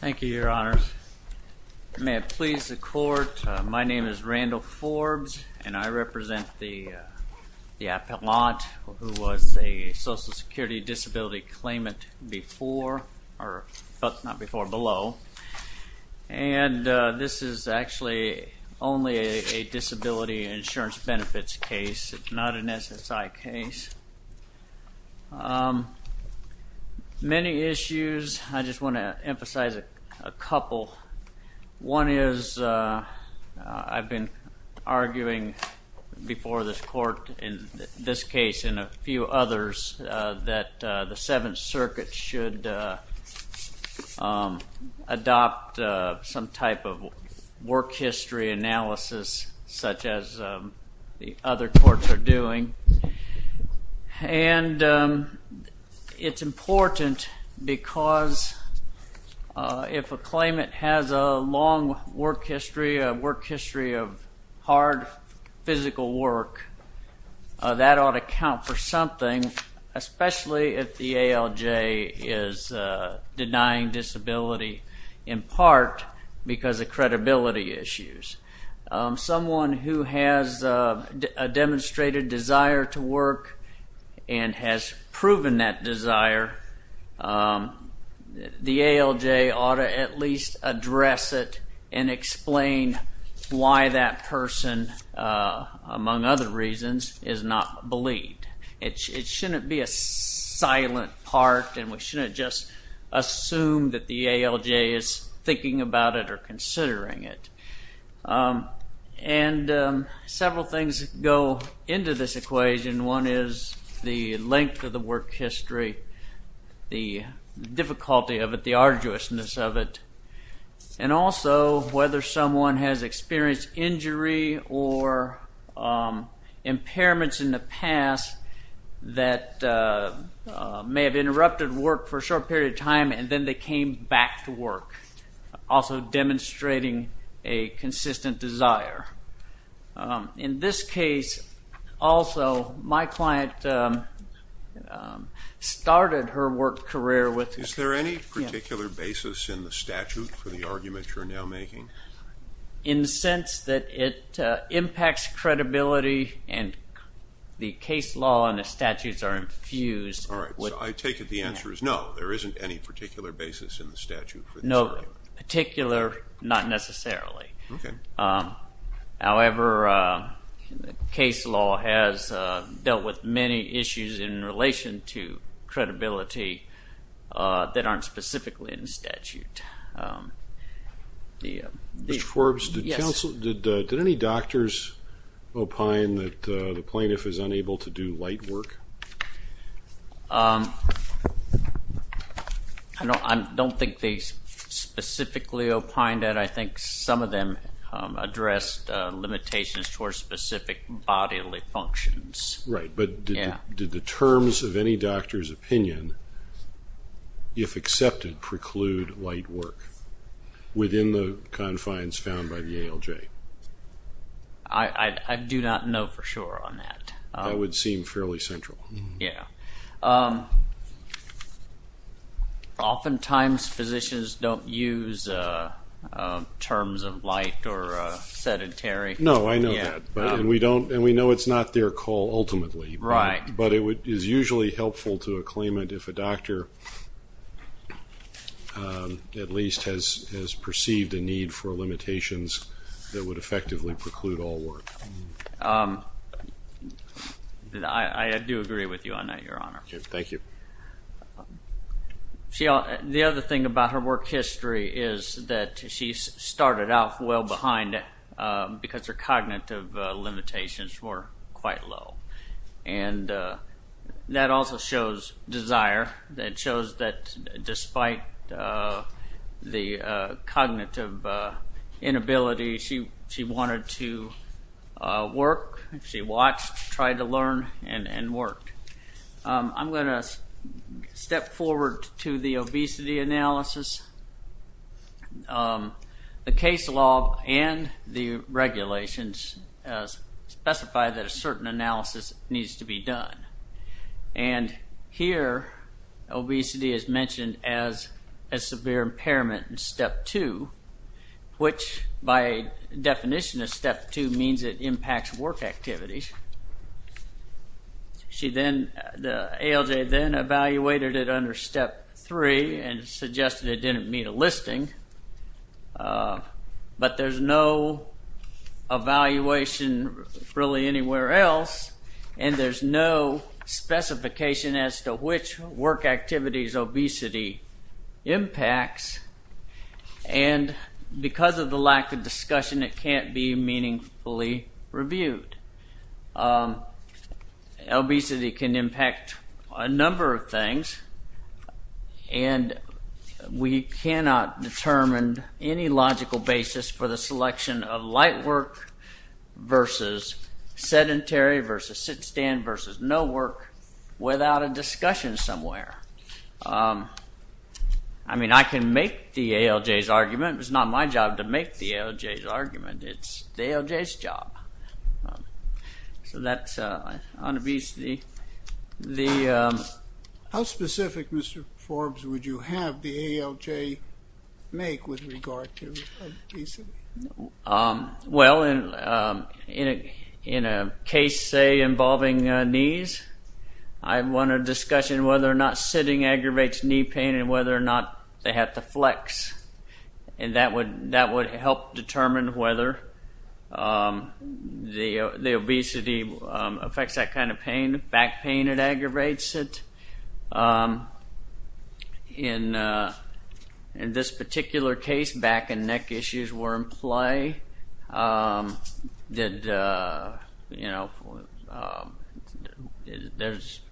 Thank you, your honors. May it please the court, my name is Randall Forbes and I represent the the appellant who was a social security disability claimant before or but not before below and this is actually only a disability insurance benefits case, not an SSI case. Many issues, I just want to emphasize a couple. One is I've been arguing before this court in this case and a few others that the Seventh Circuit should adopt some type of work history analysis such as the other courts are doing and it's important because if a claimant has a long work history, a work history of hard physical work, that ought to count for something, especially if the ALJ is denying disability in part because of credibility issues. Someone who has a demonstrated desire to work and has proven that desire, the ALJ ought to at least address it and explain why that shouldn't be a silent part and we shouldn't just assume that the ALJ is thinking about it or considering it. And several things go into this equation. One is the length of the work history, the difficulty of it, the arduousness of it, and also whether someone has experienced injury or impairments in the past that may have interrupted work for a short period of time and then they came back to work, also demonstrating a consistent desire. In this case also my client started her work career with... Is there any particular basis in the statute for the argument you're now making? In the sense that it impacts credibility and the case law and the statutes are infused. All right, I take it the answer is no, there isn't any particular basis in the statute. No, particular not necessarily. However, case law has dealt with many issues in relation to credibility that aren't specifically in the statute. Did any doctors opine that the plaintiff is unable to do light work? I don't think they specifically opined that. I think some of them addressed limitations for specific bodily functions. Right, but did the terms of any doctor's opinion, if accepted, preclude light work within the confines found by the ALJ? I do not know for sure on that. That would seem fairly central. Yeah, oftentimes physicians don't use terms of light or sedentary. No, I know that and we know it's not their call ultimately. Right. But it is usually helpful to a claimant if a doctor, at least, has perceived a need for limitations that would effectively preclude all work. I do agree with you on that, Your Honor. Thank you. The other thing about her work history is that she started out well behind because her cognitive limitations were quite low. And that also shows desire, that shows that despite the cognitive inability, she wanted to work. She watched, tried to learn, and worked. I'm going to step forward to the obesity analysis. The case law and the regulations specify that a certain analysis needs to be done. And here, obesity is mentioned as a severe cause that impacts work activities. She then, the ALJ then, evaluated it under step 3 and suggested it didn't meet a listing. But there's no evaluation really anywhere else and there's no specification as to which work activities obesity impacts. And because of the lack of discussion, it can't be meaningfully reviewed. Obesity can impact a number of things and we cannot determine any logical basis for the selection of light work versus sedentary versus sit-stand versus no work without a discussion somewhere. I mean, I can make the ALJ's argument. It's not my job to make the ALJ's argument. It's the ALJ's job. How specific, Mr. Forbes, would you have the ALJ make with regard to obesity? Well, in a case involving knees, I want a discussion whether or not sitting at the flex. And that would help determine whether the obesity affects that kind of pain, back pain that aggravates it. In this particular case, back and neck issues were in play. There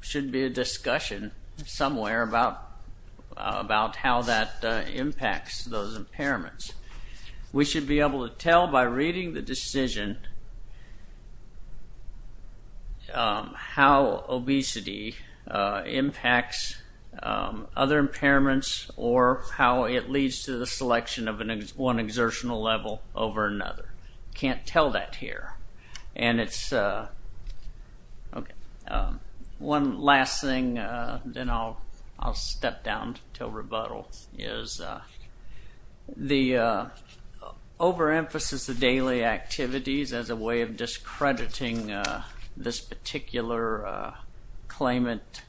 should be a discussion somewhere about how that impacts those impairments. We should be able to tell by reading the decision how obesity impacts other impairments or how it leads to the selection of one exertional level over another. Can't tell that here. And it's, okay, one last thing, then I'll step down until rebuttal, is the overemphasis of daily activities as a way of discrediting this particular claimant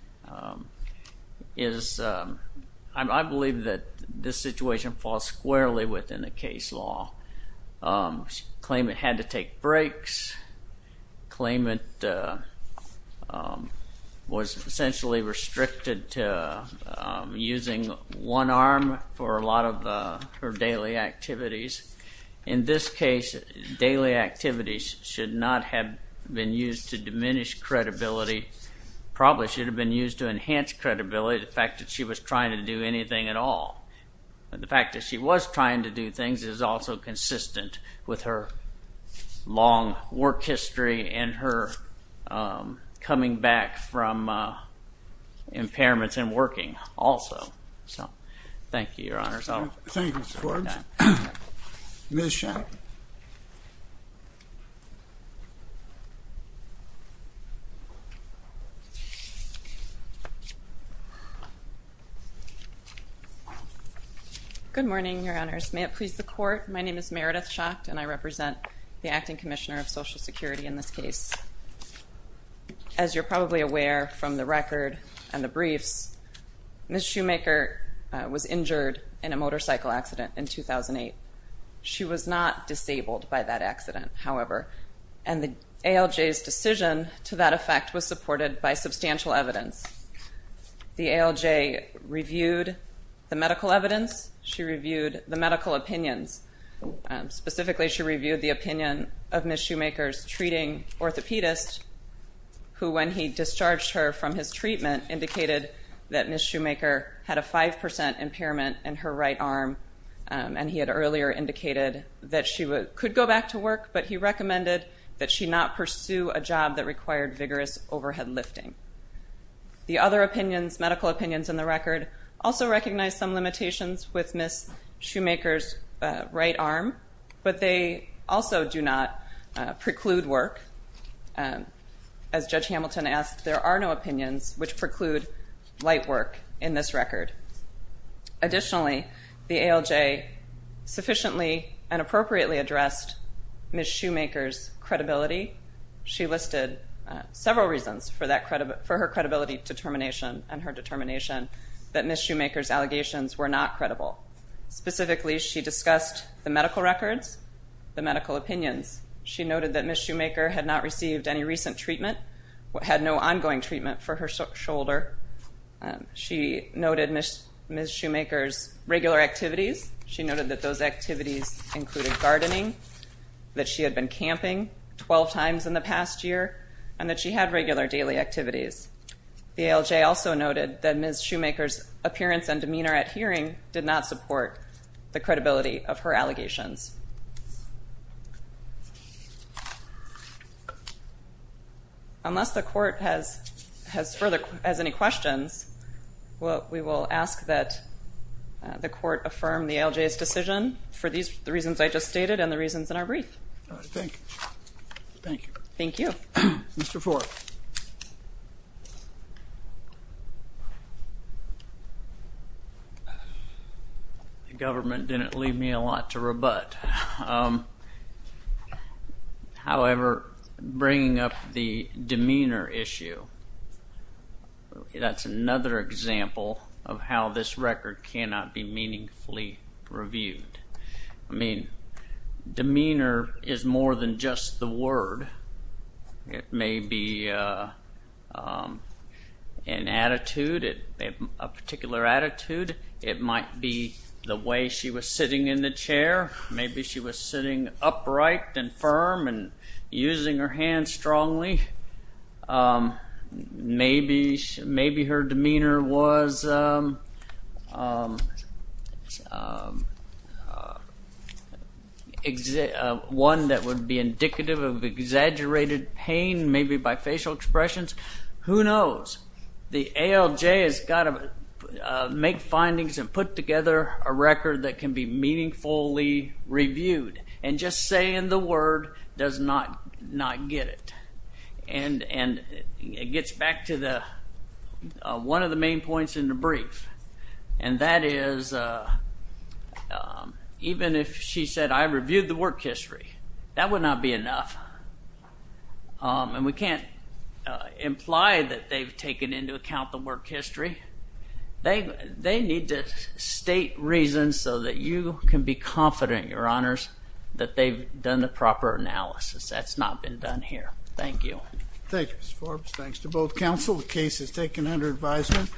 is, I believe that this law. Claimant had to take breaks. Claimant was essentially restricted to using one arm for a lot of her daily activities. In this case, daily activities should not have been used to diminish credibility. Probably should have been used to enhance credibility, the fact that she was trying to do anything at all. The fact that she was trying to do things is also consistent with her long work history and her coming back from impairments and working also. So thank Good morning, your honors. May it please the court, my name is Meredith Schacht and I represent the Acting Commissioner of Social Security in this case. As you're probably aware from the record and the briefs, Ms. Shoemaker was injured in a motorcycle accident in 2008. She was not disabled by that accident, however, and the ALJ's decision to that effect was supported by substantial evidence. The ALJ reviewed the medical evidence, she reviewed the medical opinions. Specifically, she reviewed the opinion of Ms. Shoemaker's treating orthopedist, who when he discharged her from his treatment indicated that Ms. Shoemaker had a 5% impairment in her right arm and he had earlier indicated that she could go back to work, but he recommended that she not pursue a job that required vigorous overhead lifting. The other opinions, medical opinions in the record, also recognize some limitations with Ms. Shoemaker's right arm, but they also do not preclude work. As Judge Hamilton asked, there are no opinions which preclude light work in this record. Additionally, the ALJ sufficiently and appropriately addressed Ms. Shoemaker's credibility. She listed several reasons for her credibility determination and her determination that Ms. Shoemaker's allegations were not credible. Specifically, she discussed the medical records, the medical opinions. She noted that Ms. Shoemaker had not received any recent treatment, had no ongoing treatment for her shoulder. She noted Ms. Shoemaker's regular activities. She noted that those activities included gardening, that she had regular daily activities. The ALJ also noted that Ms. Shoemaker's appearance and demeanor at hearing did not support the credibility of her allegations. Unless the court has any questions, we will ask that the court affirm the ALJ's decision for the reasons I just stated and the government didn't leave me a lot to rebut. However, bringing up the demeanor issue, that's another example of how this record cannot be meaningfully reviewed. I It may be an attitude, a particular attitude. It might be the way she was sitting in the chair. Maybe she was sitting upright and firm and using her exaggerated pain, maybe bifacial expressions. Who knows? The ALJ has got to make findings and put together a record that can be meaningfully reviewed and just saying the word does not get it. It gets back to one of the main points in the brief and that is even if she said I reviewed the work history, that would not be enough. And we can't imply that they've taken into account the work history. They need to state reasons so that you can be confident, your honors, that they've done the proper analysis. That's not been done here. Thank you. Thank you, Ms. Forbes. Thanks to both counsel. The case is taken under advisement.